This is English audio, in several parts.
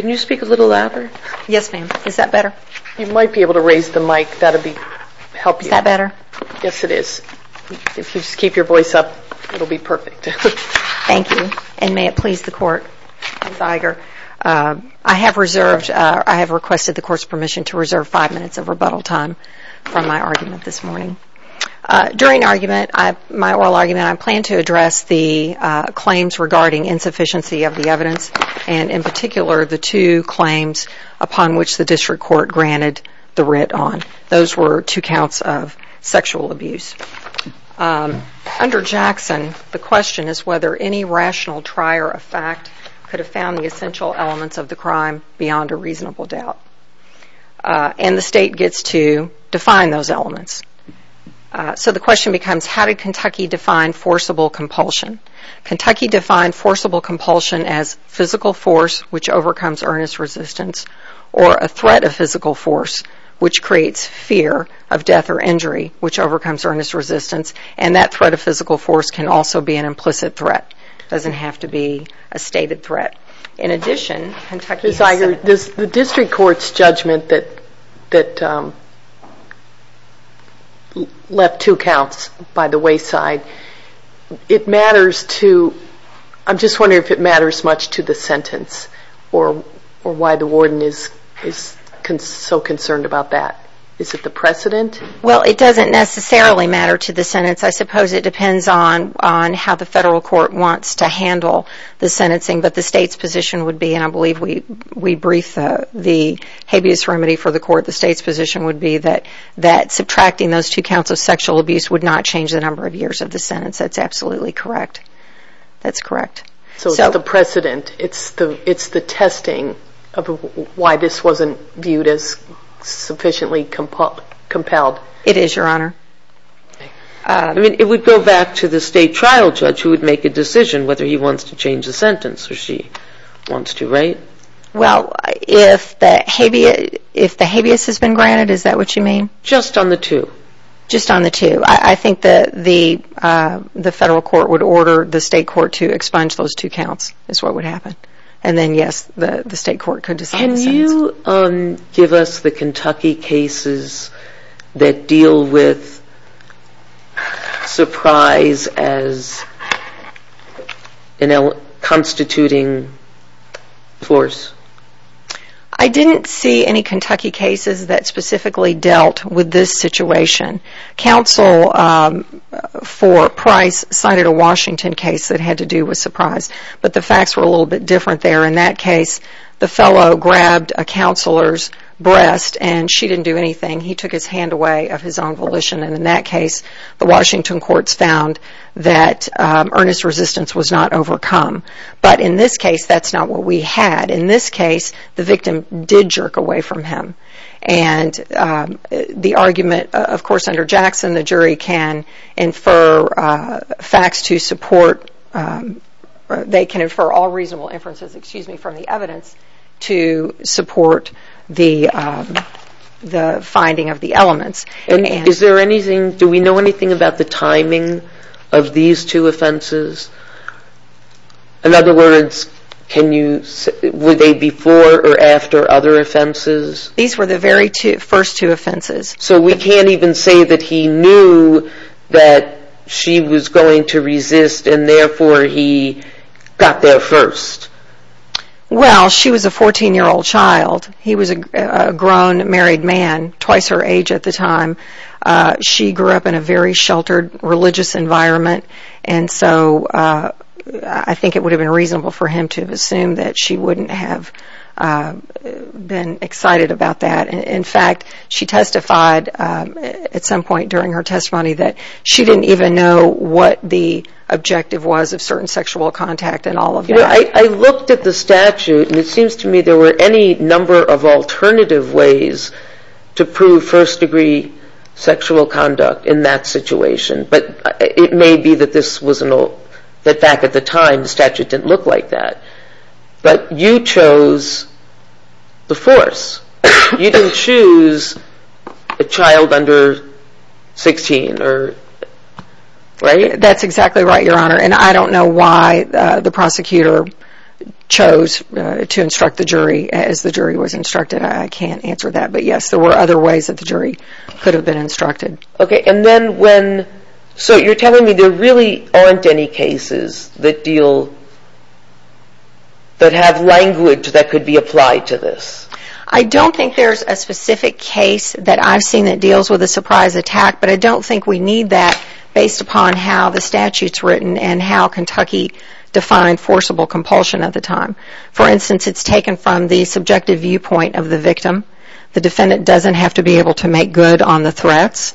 Can you speak a little louder? Yes ma'am. Is that better? You might be able to raise the mic. That would help you. Is that better? Yes it is. If you just keep your voice up it will be perfect. Thank you and may it please the court. I have requested the court's permission to reserve five minutes of rebuttal time from my argument this morning. During my oral argument I plan to address the claims regarding insufficiency of the evidence and in particular the two claims upon which the district court granted the writ on. Those were two counts of sexual abuse. Under Jackson the question is whether any rational trier of fact could have found the essential elements of the crime beyond a reasonable doubt. And the state gets to define those elements. So the question becomes how did Kentucky define forcible compulsion? Kentucky defined forcible compulsion as physical force which overcomes earnest resistance or a threat of physical force which creates fear of death or injury which overcomes earnest resistance and that threat of physical force can also be an implicit threat. It doesn't have to be a stated threat. In addition, Kentucky has said... Ms. Iger, the district court's judgment that left two counts by the wayside, it matters to, I'm just wondering if it matters much to the sentence or why the warden is so concerned about that. Is it the precedent? Well it doesn't necessarily matter to the sentence. I suppose it depends on how the federal court wants to handle the sentencing. But the state's position would be, and I believe we briefed the habeas remedy for the court, the state's position would be that subtracting those two counts of sexual abuse would not change the number of years of the sentence. That's absolutely correct. That's correct. So it's the precedent. It's the testing of why this wasn't viewed as sufficiently compelled. It is, Your Honor. It would go back to the state trial judge who would make a decision whether he wants to change the sentence or she wants to, right? Well, if the habeas has been granted, is that what you mean? Just on the two? Just on the two. I think that the federal court would order the state court to expunge those two counts is what would happen. And then yes, the state court could decide the sentence. Can you give us the Kentucky cases that deal with surprise as a constituting force? I didn't see any Kentucky cases that specifically dealt with this situation. Counsel for Price cited a Washington case that had to do with surprise. But the facts were a little bit different there. In that case, the fellow grabbed a counselor's breast and she didn't do anything. He took his hand away of his own volition. And in that case, the case, that's not what we had. In this case, the victim did jerk away from him. And the argument, of course, under Jackson, the jury can infer facts to support, they can infer all reasonable inferences, excuse me, from the evidence to support the finding of the elements. And is there anything, do we know anything about the timing of these two offenses? In other words, were they before or after other offenses? These were the very first two offenses. So we can't even say that he knew that she was going to resist and therefore he got there first? Well, she was a 14-year-old child. He was a grown married man, twice her and so I think it would have been reasonable for him to assume that she wouldn't have been excited about that. In fact, she testified at some point during her testimony that she didn't even know what the objective was of certain sexual contact and all of that. I looked at the statute and it seems to me there were any number of alternative ways to prove first degree sexual conduct in that situation. But it may be that this was an old, that back at the time the statute didn't look like that. But you chose the force. You didn't choose a child under 16, right? That's exactly right, Your Honor. And I don't know why the prosecutor chose to instruct the jury as the jury was instructed. I can't answer that. But yes, there were other ways that the jury could have been instructed. Okay, and then when, so you're telling me there really aren't any cases that deal, that have language that could be applied to this? I don't think there's a specific case that I've seen that deals with a surprise attack, but I don't think we need that based upon how the statute's written and how Kentucky defined forcible compulsion at the time. For instance, it's doesn't have to be able to make good on the threats.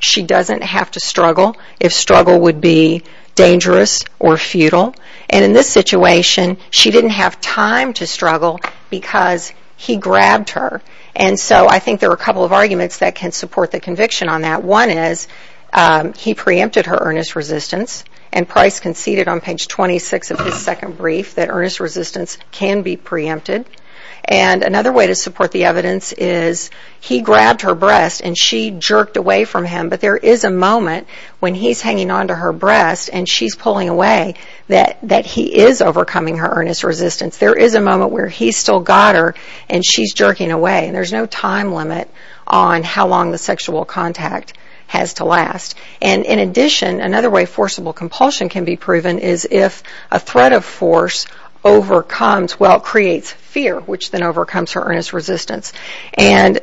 She doesn't have to struggle if struggle would be dangerous or futile. And in this situation, she didn't have time to struggle because he grabbed her. And so I think there are a couple of arguments that can support the conviction on that. One is he preempted her earnest resistance and Price conceded on page 26 of his second brief that earnest resistance can be preempted. And another way to support the evidence is he grabbed her breast and she jerked away from him. But there is a moment when he's hanging on to her breast and she's pulling away that he is overcoming her earnest resistance. There is a moment where he's still got her and she's jerking away. And there's no time limit on how long the sexual contact has to last. And in addition, another way forcible compulsion can be proven is if a threat of force overcomes, well, creates fear, which then overcomes her earnest resistance. And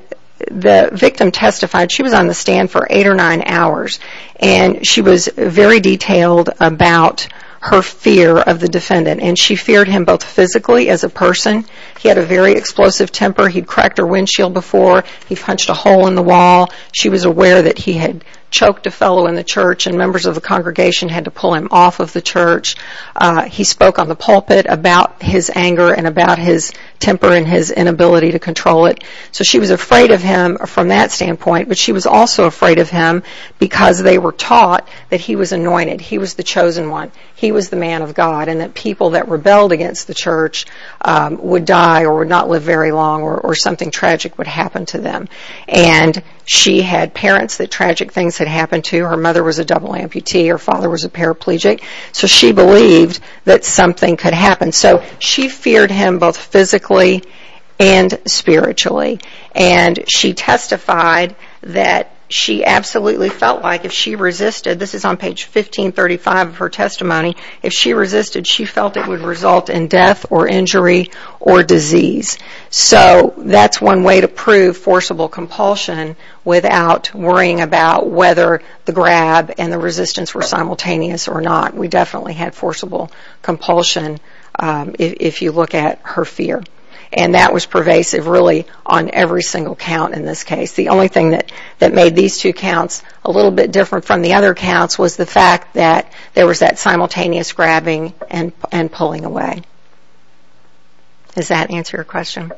the victim testified she was on the stand for eight or nine hours and she was very detailed about her fear of the defendant. And she feared him both physically as a person. He had a very explosive temper. He'd cracked her windshield before. He punched a hole in the wall. She was aware that he had choked a fellow in the church and members of the congregation had to pull him off of the church. He spoke on the pulpit about his anger and about his temper and his inability to control it. So she was afraid of him from that standpoint, but she was also afraid of him because they were taught that he was anointed. He was the chosen one. He was the man of God and that people that rebelled against the church would die or would not live very long or something tragic would happen to them. And she had parents that tragic things had happened. So she believed that something could happen. So she feared him both physically and spiritually. And she testified that she absolutely felt like if she resisted, this is on page 1535 of her testimony, if she resisted she felt it would result in death or injury or disease. So that's one way to prove forcible compulsion without worrying about whether the grab and the resistance were simultaneous or not. We definitely had forcible compulsion if you look at her fear. And that was pervasive really on every single count in this case. The only thing that made these two counts a little bit different from the other counts was the fact that there was that simultaneous grabbing and pulling away. Does that answer the question?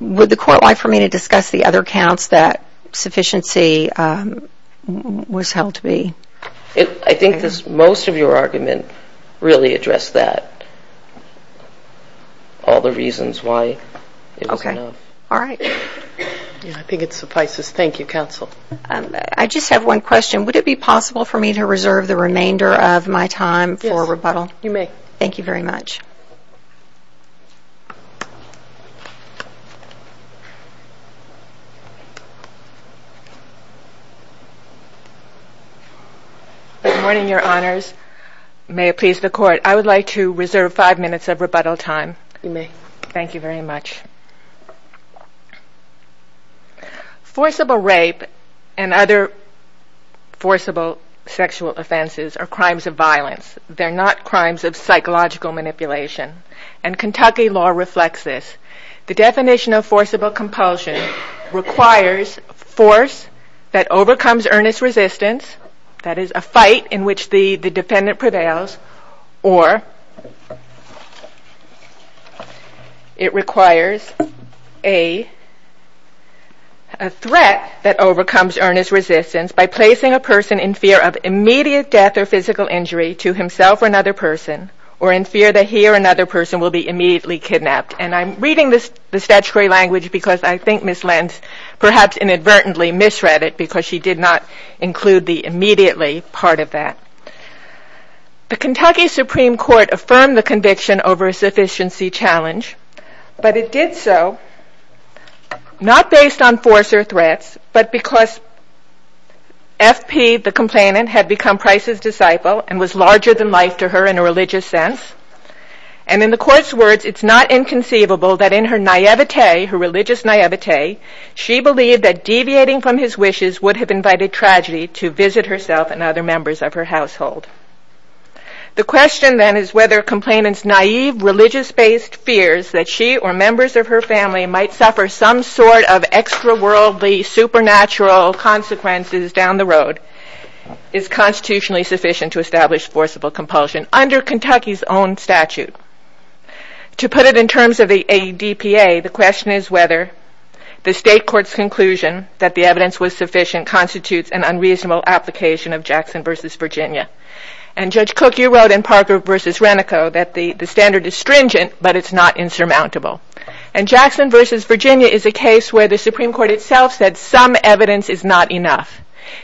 Would the court like for me to discuss the other counts that sufficiency was held to be? I think most of your argument really addressed that. All the reasons why it was enough. Okay. All right. I think it suffices. Thank you, counsel. I just have one question. Would it be possible for me to reserve the remainder of my time for rebuttal? Yes, you may. Thank you very much. Good morning, your honors. May it please the court. I would like to reserve five minutes of rebuttal time. You may. Thank you very much. Forcible rape and other forcible sexual offenses are crimes of violence. They're not crimes of psychological manipulation. And Kentucky law reflects this. The definition of forcible compulsion requires force that overcomes earnest resistance, that is a fight in which the defendant prevails, or it requires a threat that overcomes earnest resistance by placing a person in immediate death or physical injury to himself or another person or in fear that he or another person will be immediately kidnapped. And I'm reading the statutory language because I think Ms. Lentz perhaps inadvertently misread it because she did not include the immediately part of that. The Kentucky Supreme Court affirmed the conviction over a sufficiency challenge, but it did so not based on force or threats, but because FP, the complainant, had become Price's disciple and was larger than life to her in a religious sense. And in the court's words, it's not inconceivable that in her naivete, her religious naivete, she believed that deviating from his wishes would have invited tragedy to visit herself and other members of her household. The question then is whether complainant's naive religious-based fears that she or members of her family might suffer some sort of extra-worldly supernatural consequences down the road is constitutionally sufficient to establish forcible compulsion under Kentucky's own statute. To put it in terms of the ADPA, the question is whether the state court's conclusion that the evidence was sufficient constitutes an unreasonable application of Jackson v. Virginia. And Judge Cooke, you wrote in Parker v. Renico that the standard is stringent, but it's not and Jackson v. Virginia is a case where the Supreme Court itself said some evidence is not enough.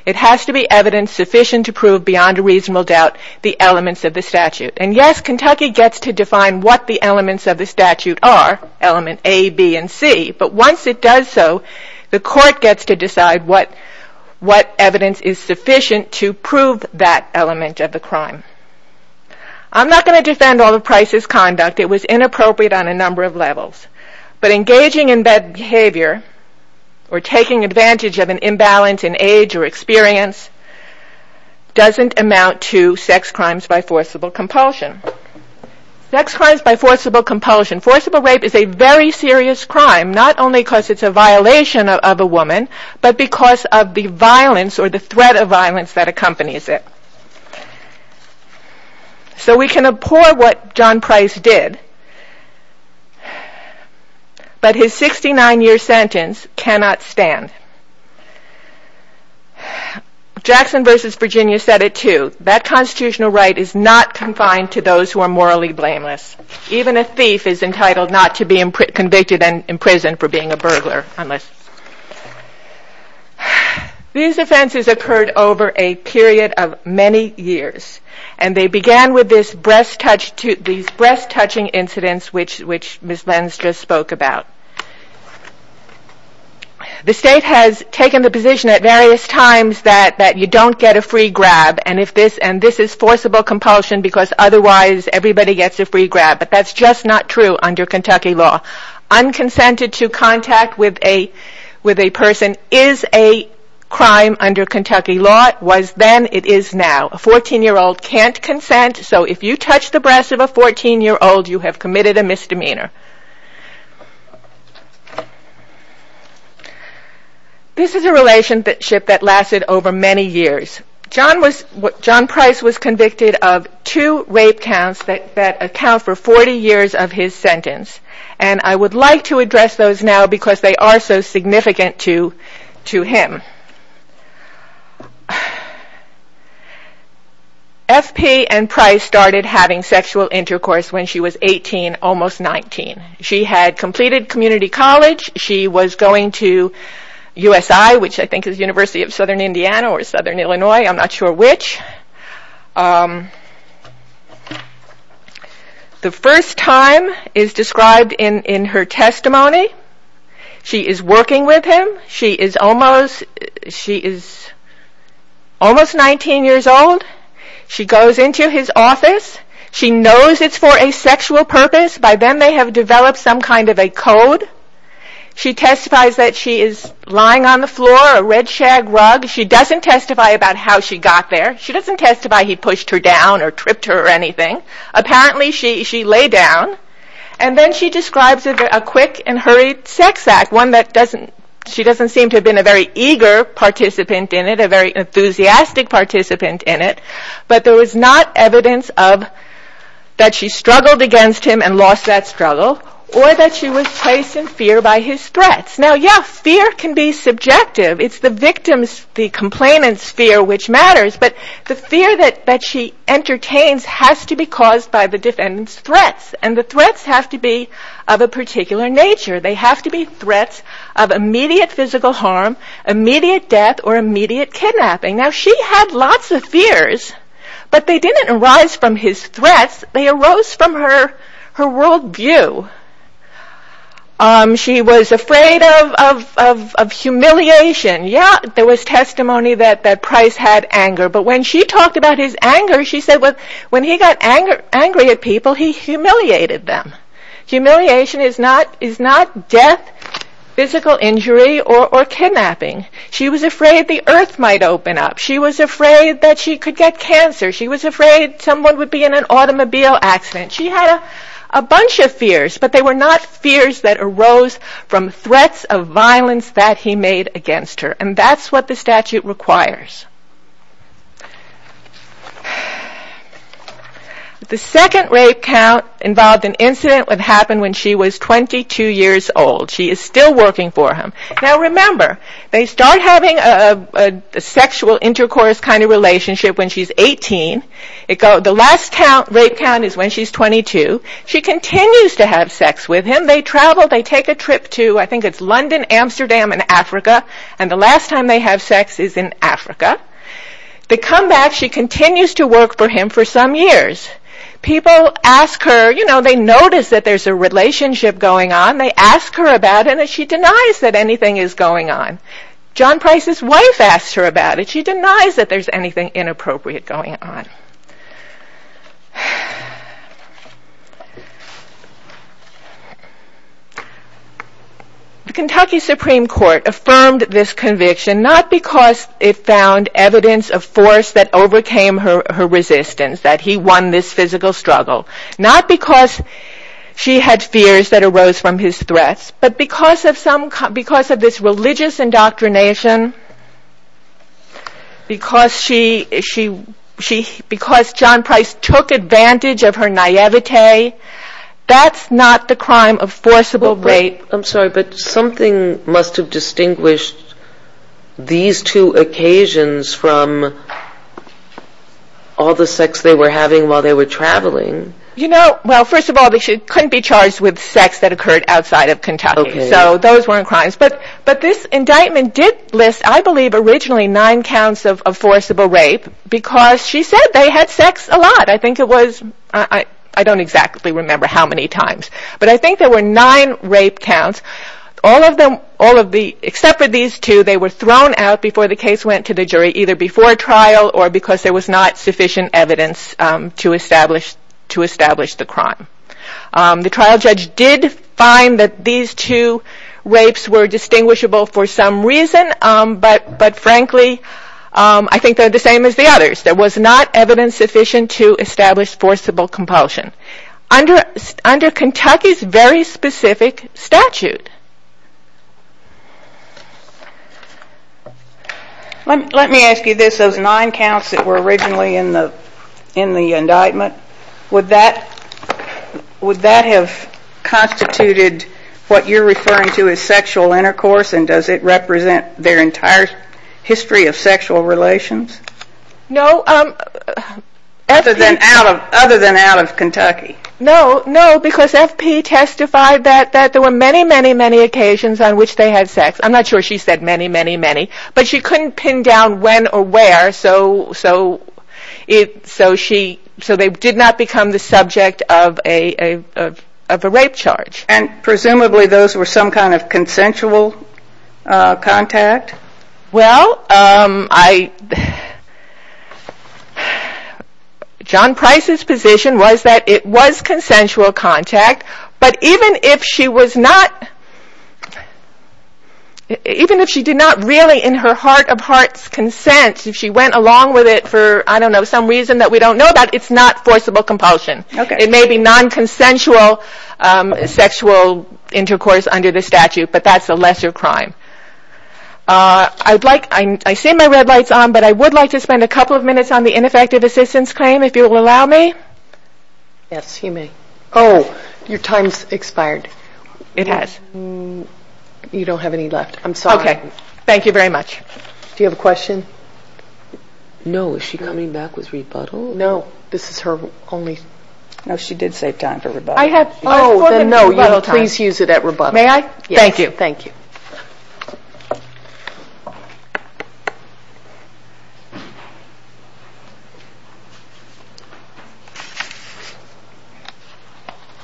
It has to be evidence sufficient to prove beyond a reasonable doubt the elements of the statute. And yes, Kentucky gets to define what the elements of the statute are, element A, B, and C, but once it does so, the court gets to decide what evidence is sufficient to prove that element of the crime. I'm not going to defend all of Price's conduct. It was inappropriate on a number of levels, but engaging in bad behavior or taking advantage of an imbalance in age or experience doesn't amount to sex crimes by forcible compulsion. Sex crimes by forcible compulsion. Forcible rape is a very serious crime, not only because it's a violation of a woman, but because of the violence or the threat of violence that accompanies it. So we can abhor what John Price did, but his 69-year sentence cannot stand. Jackson v. Virginia said it too. That constitutional right is not confined to those who are morally blameless. Even a thief is These offenses occurred over a period of many years, and they began with these breast-touching incidents which Ms. Lenz just spoke about. The state has taken the position at various times that you don't get a free grab, and this is forcible compulsion because otherwise everybody gets a free grab, but that's just not true under Kentucky law. Unconsented to crime under Kentucky law was then, it is now. A 14-year-old can't consent, so if you touch the breast of a 14-year-old, you have committed a misdemeanor. This is a relationship that lasted over many years. John Price was convicted of two rape counts that account for 40 years of his sentence, and I would like to address those now because they are so significant to him. FP and Price started having sexual intercourse when she was 18, almost 19. She had completed community college. She was going to USI, which I think is University of Southern Indiana or Southern Illinois. I'm not sure which. The first time is described in her testimony. She is working with him. She is almost 19 years old. She goes into his office. She knows it's for a sexual purpose. By then, they have developed some kind of a code. She testifies that she is lying on the floor, a red shag rug. She doesn't testify about how she got there. She doesn't testify he pushed her down or tripped her or anything. Apparently, she lay down. Then she describes a quick and hurried sex act, one that she doesn't seem to have been a very eager participant in it, a very enthusiastic participant in it, but there was not evidence that she struggled against him and lost that struggle or that she was placed in fear by his threats. Now, yes, fear can be subjective. It's the victim's, the complainant's fear which matters, but the fear that she entertains has to be caused by the defendant's threats. The threats have to be of a particular nature. They have to be threats of immediate physical harm, immediate death, or immediate kidnapping. Now, she had lots of fears, but they didn't arise from his threats. They arose from her world view. She was afraid of humiliation. Yeah, there was testimony that Price had anger, but when she talked about his anger, she said when he got angry at people, he humiliated them. Humiliation is not death, physical injury, or kidnapping. She was afraid the earth might open up. She was afraid that she could get cancer. She was afraid someone would be in an automobile accident. She had a bunch of fears, but they were not fears that arose from threats of violence that he made against her, and that's what the statute requires. The second rape count involved an incident that happened when she was 22 years old. She is still working for him. Now, remember, they start having a sexual intercourse kind of thing. The rape count is when she's 22. She continues to have sex with him. They travel. They take a trip to, I think it's London, Amsterdam, and Africa, and the last time they have sex is in Africa. They come back. She continues to work for him for some years. People ask her, you know, they notice that there's a relationship going on. They ask her about it, and she denies that anything is going on. John Price's wife asked her about it. She denies that there's anything inappropriate going on. The Kentucky Supreme Court affirmed this conviction, not because it found evidence of force that overcame her resistance, that he won this physical struggle, not because she had fears that arose from his threats, but because of this religious indoctrination, because John Price took advantage of her naivete, that's not the crime of forcible rape. I'm sorry, but something must have distinguished these two occasions from all the sex they were having while they were traveling. You know, well, first of all, they couldn't be charged with sex that occurred outside of Kentucky, so those weren't crimes, but this indictment did list, I believe, originally nine counts of forcible rape because she said they had sex a lot. I think it was, I don't exactly remember how many times, but I think there were nine rape counts. All of them, all of the, except for these two, they were thrown out before the case went to the jury, either before trial or because there was not sufficient evidence to establish the crime. The trial judge did find that these two rapes were distinguishable for some reason, but frankly I think they're the same as the others. There was not evidence sufficient to establish forcible compulsion. Under Kentucky's very specific statute. Let me ask you this, those nine counts that were originally in the indictment, would that have constituted what you're referring to as sexual intercourse and does it represent their entire history of sexual relations? Other than out of Kentucky? No, no, because F.P. testified that there were many, many, many occasions on which they had sex. I'm not sure she said many, many, many, but she couldn't pin down when or where, so they did not become the subject of a rape charge. And presumably those were some kind of consensual contact? Well, John Price's position was that it was consensual contact, but even if she did not really in her heart of hearts consent, if she went along with it for some reason that we don't know about, it's not forcible compulsion. It may be non-consensual sexual intercourse under the statute, but that's a lesser crime. I'd like, I see my red lights on, but I would like to spend a couple of minutes on the ineffective assistance claim, if you will allow me. Yes, you may. Oh, your time's expired. It has. You don't have any left. I'm sorry. Thank you very much. Do you have a question? No, is she coming back with rebuttal? No, this is her only. Oh, then no, you will please use it at rebuttal. May I? Thank you.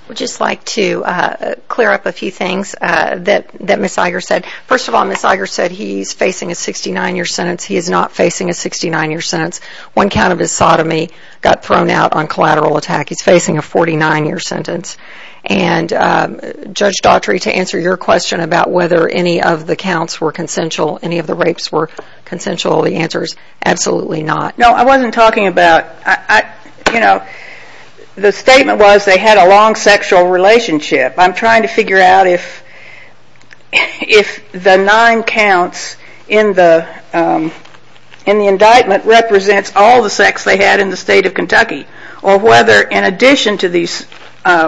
I'd just like to clear up a few things that Ms. Iger said. First of all, Ms. Iger said he's facing a 69-year sentence. He is not facing a 69-year sentence. One count of his sodomy got thrown out on collateral attack. He's facing a 49-year sentence. And Judge Daughtry, to answer your question about whether any of the counts were consensual, any of the rapes were consensual, the answer is absolutely not. No, I wasn't talking about, you know, the statement was they had a long sexual relationship. I'm trying to figure out if the nine counts in the indictment represents all the sex they had in the state of Kentucky, or whether in addition to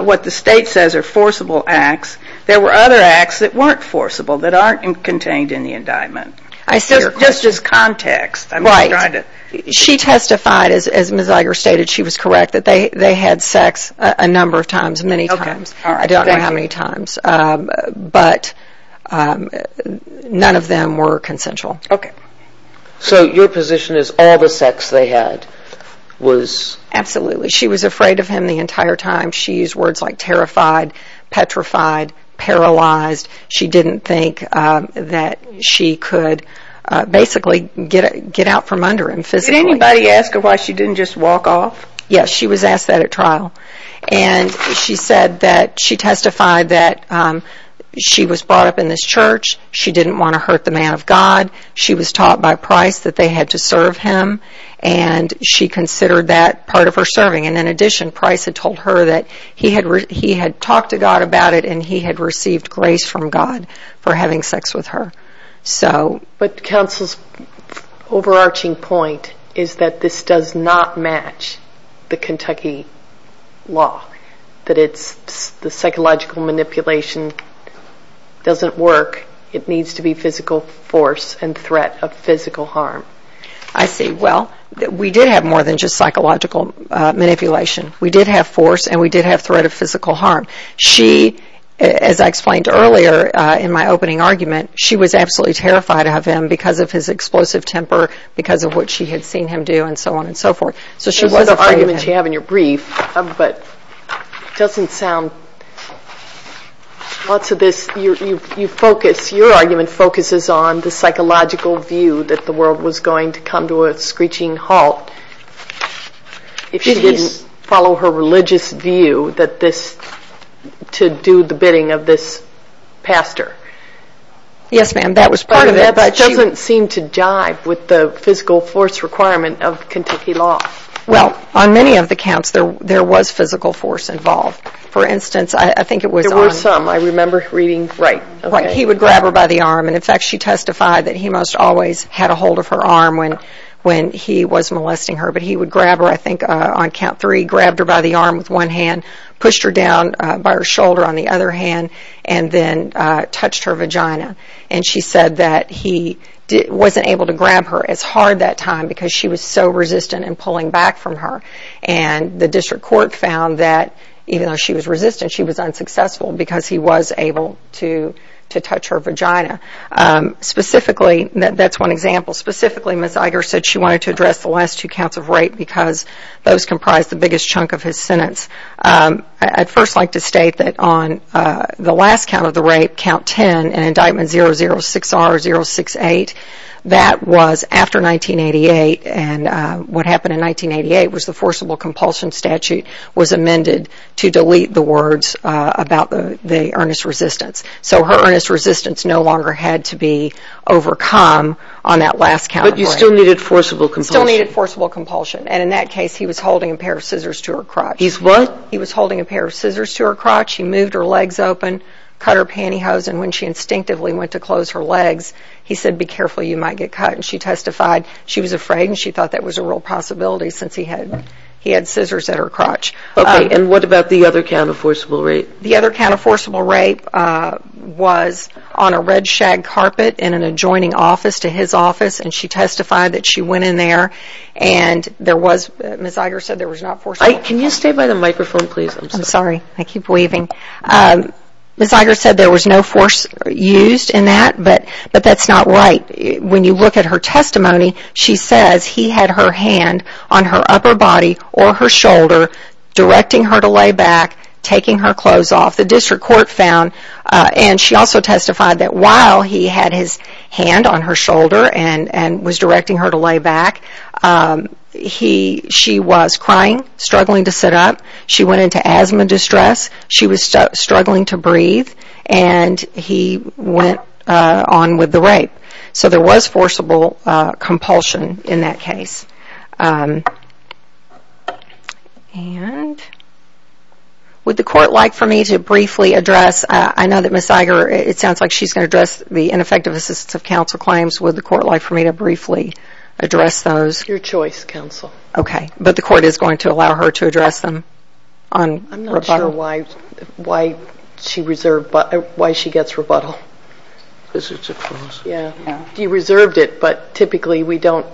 what the state says are forcible acts, there were other acts that weren't forcible, that aren't contained in the indictment. I see your question. Just as context. Right. She testified, as Ms. Iger stated, she was correct, that they had sex a number of times, many times. I don't know how many times. But none of them were consensual. Okay. So your position is all the sex they had was... Paralyzed. She didn't think that she could basically get out from under him physically. Did anybody ask her why she didn't just walk off? Yes. She was asked that at trial. And she said that she testified that she was brought up in this church. She didn't want to hurt the man of God. She was taught by Price that they had to serve him. And she considered that part of her serving. And in addition, he had talked to God about it, and he had received grace from God for having sex with her. But counsel's overarching point is that this does not match the Kentucky law. That it's the psychological manipulation doesn't work. It needs to be physical force and threat of physical harm. I see. Well, we did have more than just psychological manipulation. We did have force, and we did have threat of physical harm. She, as I explained earlier in my opening argument, she was absolutely terrified of him because of his explosive temper, because of what she had seen him do, and so on and so forth. Those are the arguments you have in your brief, but it doesn't sound... Lots of this... Your argument focuses on the psychological view that the world was going to come to a screeching halt if she didn't follow her religious view to do the bidding of this pastor. Yes, ma'am. That was part of it, but... But that doesn't seem to jive with the physical force requirement of Kentucky law. Well, on many of the counts, there was physical force involved. For instance, I think it was... There were some. I remember reading... Right. He would grab her by the arm, and in fact, she testified that he most always had a hold of her arm when he was molesting her, but he would grab her, I think, on count three, grabbed her by the arm with one hand, pushed her down by her shoulder on the other hand, and then touched her vagina, and she said that he wasn't able to grab her as hard that time because she was so resistant in pulling back from her, and the district court found that even though she was resistant, she was unsuccessful because he was able to touch her vagina. Specifically, that's one example. Specifically, Ms. Iger said she wanted to address the last two counts of rape because those comprised the biggest chunk of his sentence. I'd first like to state that on the last count of the rape, count 10, and indictment 006R-068, that was after 1988, and what happened in 1988 was the forcible compulsion statute was to be overcome on that last count of rape. But you still needed forcible compulsion. Still needed forcible compulsion, and in that case, he was holding a pair of scissors to her crotch. He's what? He was holding a pair of scissors to her crotch. He moved her legs open, cut her pantyhose, and when she instinctively went to close her legs, he said, be careful, you might get cut, and she testified she was afraid and she thought that was a real possibility since he had scissors at her crotch. Okay, and what about the other count of forcible rape? The other count of forcible rape was on a red shag carpet in an adjoining office to his office, and she testified that she went in there and there was, Ms. Iger said there was not forcible. Can you stay by the microphone, please? I'm sorry. I keep weaving. Ms. Iger said there was no force used in that, but that's not right. When you look at her testimony, she says he had her hand on her upper body or her shoulder directing her to lay back, taking her clothes off. The district court found, and she also testified that while he had his hand on her shoulder and was directing her to lay back, she was crying, struggling to sit up, she went into asthma distress, she was struggling to breathe, and he went on with the rape. So there was forcible compulsion in that case. And would the court like for me to briefly address, I know that Ms. Iger, it sounds like she's going to address the ineffective assistance of counsel claims. Would the court like for me to briefly address those? Your choice, counsel. Okay, but the court is going to allow her to address them on rebuttal? I'm not sure why she gets rebuttal. Because it's a clause. You reserved it, but typically you don't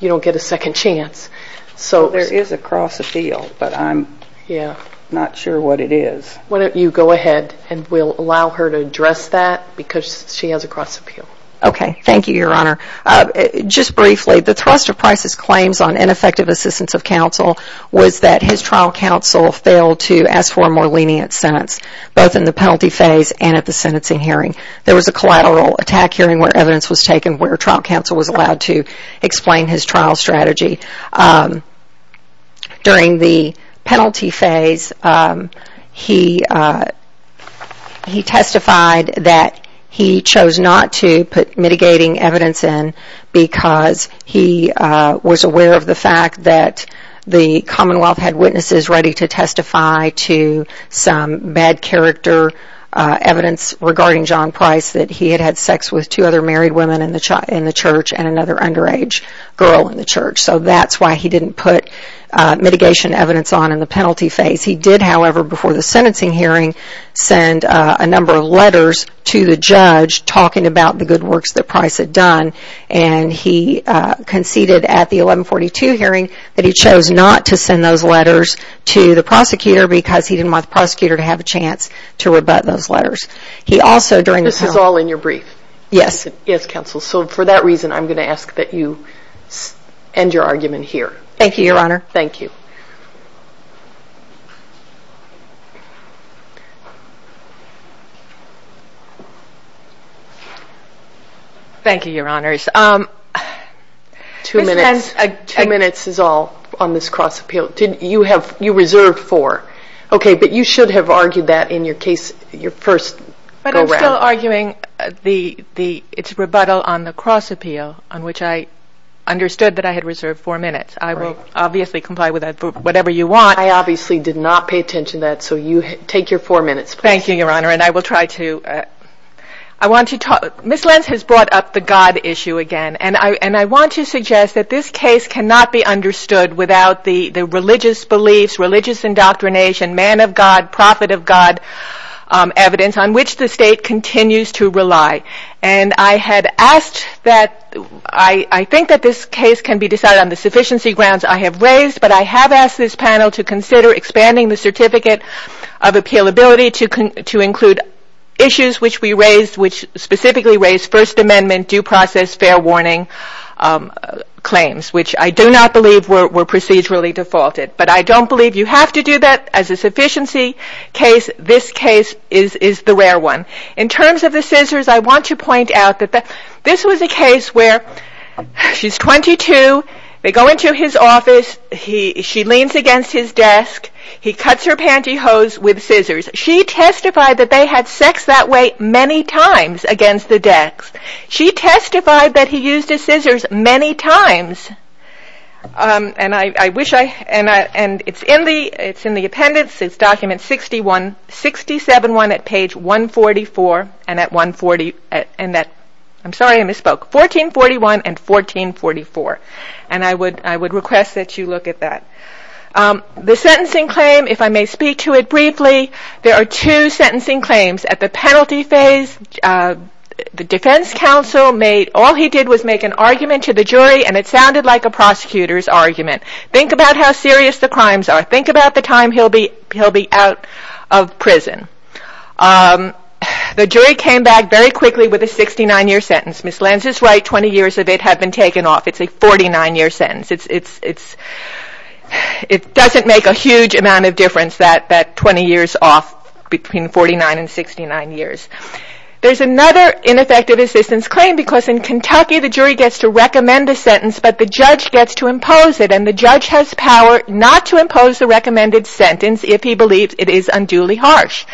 get a second chance. There is a cross appeal, but I'm not sure what it is. Why don't you go ahead and we'll allow her to address that because she has a cross appeal. Okay, thank you, Your Honor. Just briefly, the thrust of Price's claims on ineffective assistance of counsel was that his trial counsel failed to ask for a more lenient sentence, both in the penalty phase and at the sentencing hearing. There was a collateral attack hearing where evidence was taken where trial counsel was allowed to explain his trial strategy. During the penalty phase, he testified that he chose not to put mitigating evidence in because he was aware of the fact that the Commonwealth had witnesses ready to testify to some bad character evidence regarding John Price, that he had had sex with two other married women in the church and another underage girl in the church. So that's why he didn't put mitigation evidence on in the penalty phase. He did, however, before the sentencing hearing, send a number of letters to the judge talking about the good works that Price had done. And he conceded at the 1142 hearing that he chose not to send those letters to the prosecutor because he didn't want the prosecutor to have a chance to rebut those letters. This is all in your brief? Yes. Yes, counsel. So for that reason, I'm going to ask that you end your argument here. Thank you, Your Honor. Thank you. Thank you, Your Honors. Two minutes is all on this cross appeal. You reserved four. Okay, but you should have argued that in your first go around. But I'm still arguing its rebuttal on the cross appeal, on which I understood that I had reserved four minutes. I will obviously comply with that for whatever you want. I obviously did not pay attention to that, so take your four minutes, please. Thank you, Your Honor, and I will try to. Ms. Lentz has brought up the God issue again, and I want to suggest that this case cannot be understood without the religious beliefs, religious indoctrination, man of God, prophet of God evidence on which the state continues to rely. And I had asked that I think that this case can be decided on the sufficiency grounds I have raised, but I have asked this panel to consider expanding the certificate of appealability to include issues which specifically raise First Amendment due process fair warning claims, which I do not believe were procedurally defaulted. But I don't believe you have to do that. As a sufficiency case, this case is the rare one. In terms of the scissors, I want to point out that this was a case where she's 22. They go into his office. She leans against his desk. He cuts her pantyhose with scissors. She testified that they had sex that way many times against the desk. She testified that he used his scissors many times. And it's in the appendix. It's document 67-1 at page 144. I'm sorry, I misspoke. 1441 and 1444. And I would request that you look at that. The sentencing claim, if I may speak to it briefly, there are two sentencing claims. At the penalty phase, the defense counsel made, all he did was make an argument to the jury, and it sounded like a prosecutor's argument. Think about how serious the crimes are. Think about the time he'll be out of prison. The jury came back very quickly with a 69-year sentence. Ms. Lenz is right, 20 years of it have been taken off. It's a 49-year sentence. It doesn't make a huge amount of difference, that 20 years off between 49 and 69 years. There's another ineffective assistance claim because in Kentucky, the jury gets to recommend a sentence, but the judge gets to impose it, and the judge has power not to impose the recommended sentence if he believes it is unduly harsh.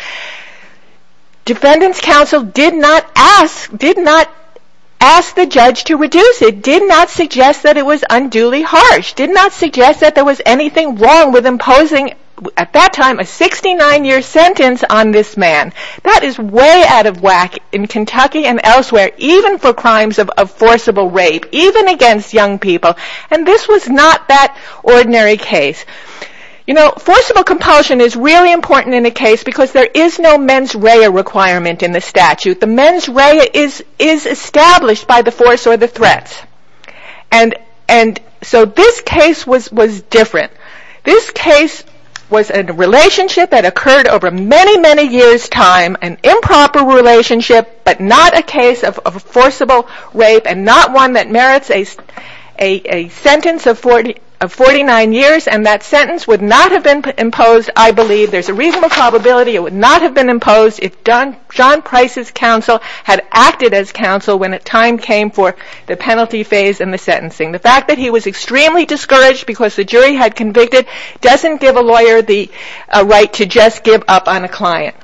Defendant's counsel did not ask the judge to reduce it, did not suggest that it was unduly harsh, did not suggest that there was anything wrong with imposing, at that time, a 69-year sentence on this man. That is way out of whack in Kentucky and elsewhere, even for crimes of forcible rape, even against young people, and this was not that ordinary case. You know, forcible compulsion is really important in the case because there is no mens rea requirement in the statute. The mens rea is established by the force or the threats, and so this case was different. This case was a relationship that occurred over many, many years' time, an improper relationship, but not a case of forcible rape, and not one that merits a sentence of 49 years, and that sentence would not have been imposed, I believe. There's a reasonable probability it would not have been imposed if John Price's counsel had acted as counsel when the time came for the penalty phase and the sentencing. The fact that he was extremely discouraged because the jury had convicted doesn't give a lawyer the right to just give up on a client.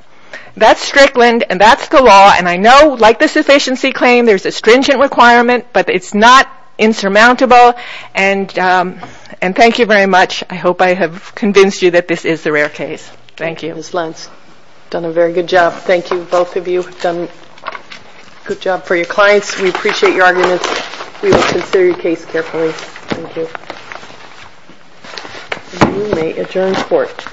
That's Strickland, and that's the law, and I know, like the sufficiency claim, there's a stringent requirement, but it's not insurmountable, and thank you very much. I hope I have convinced you that this is a rare case. Thank you. Ms. Lentz, you've done a very good job. Thank you, both of you. You've done a good job for your clients. We appreciate your arguments. We will consider your case carefully. Thank you. You may adjourn the court.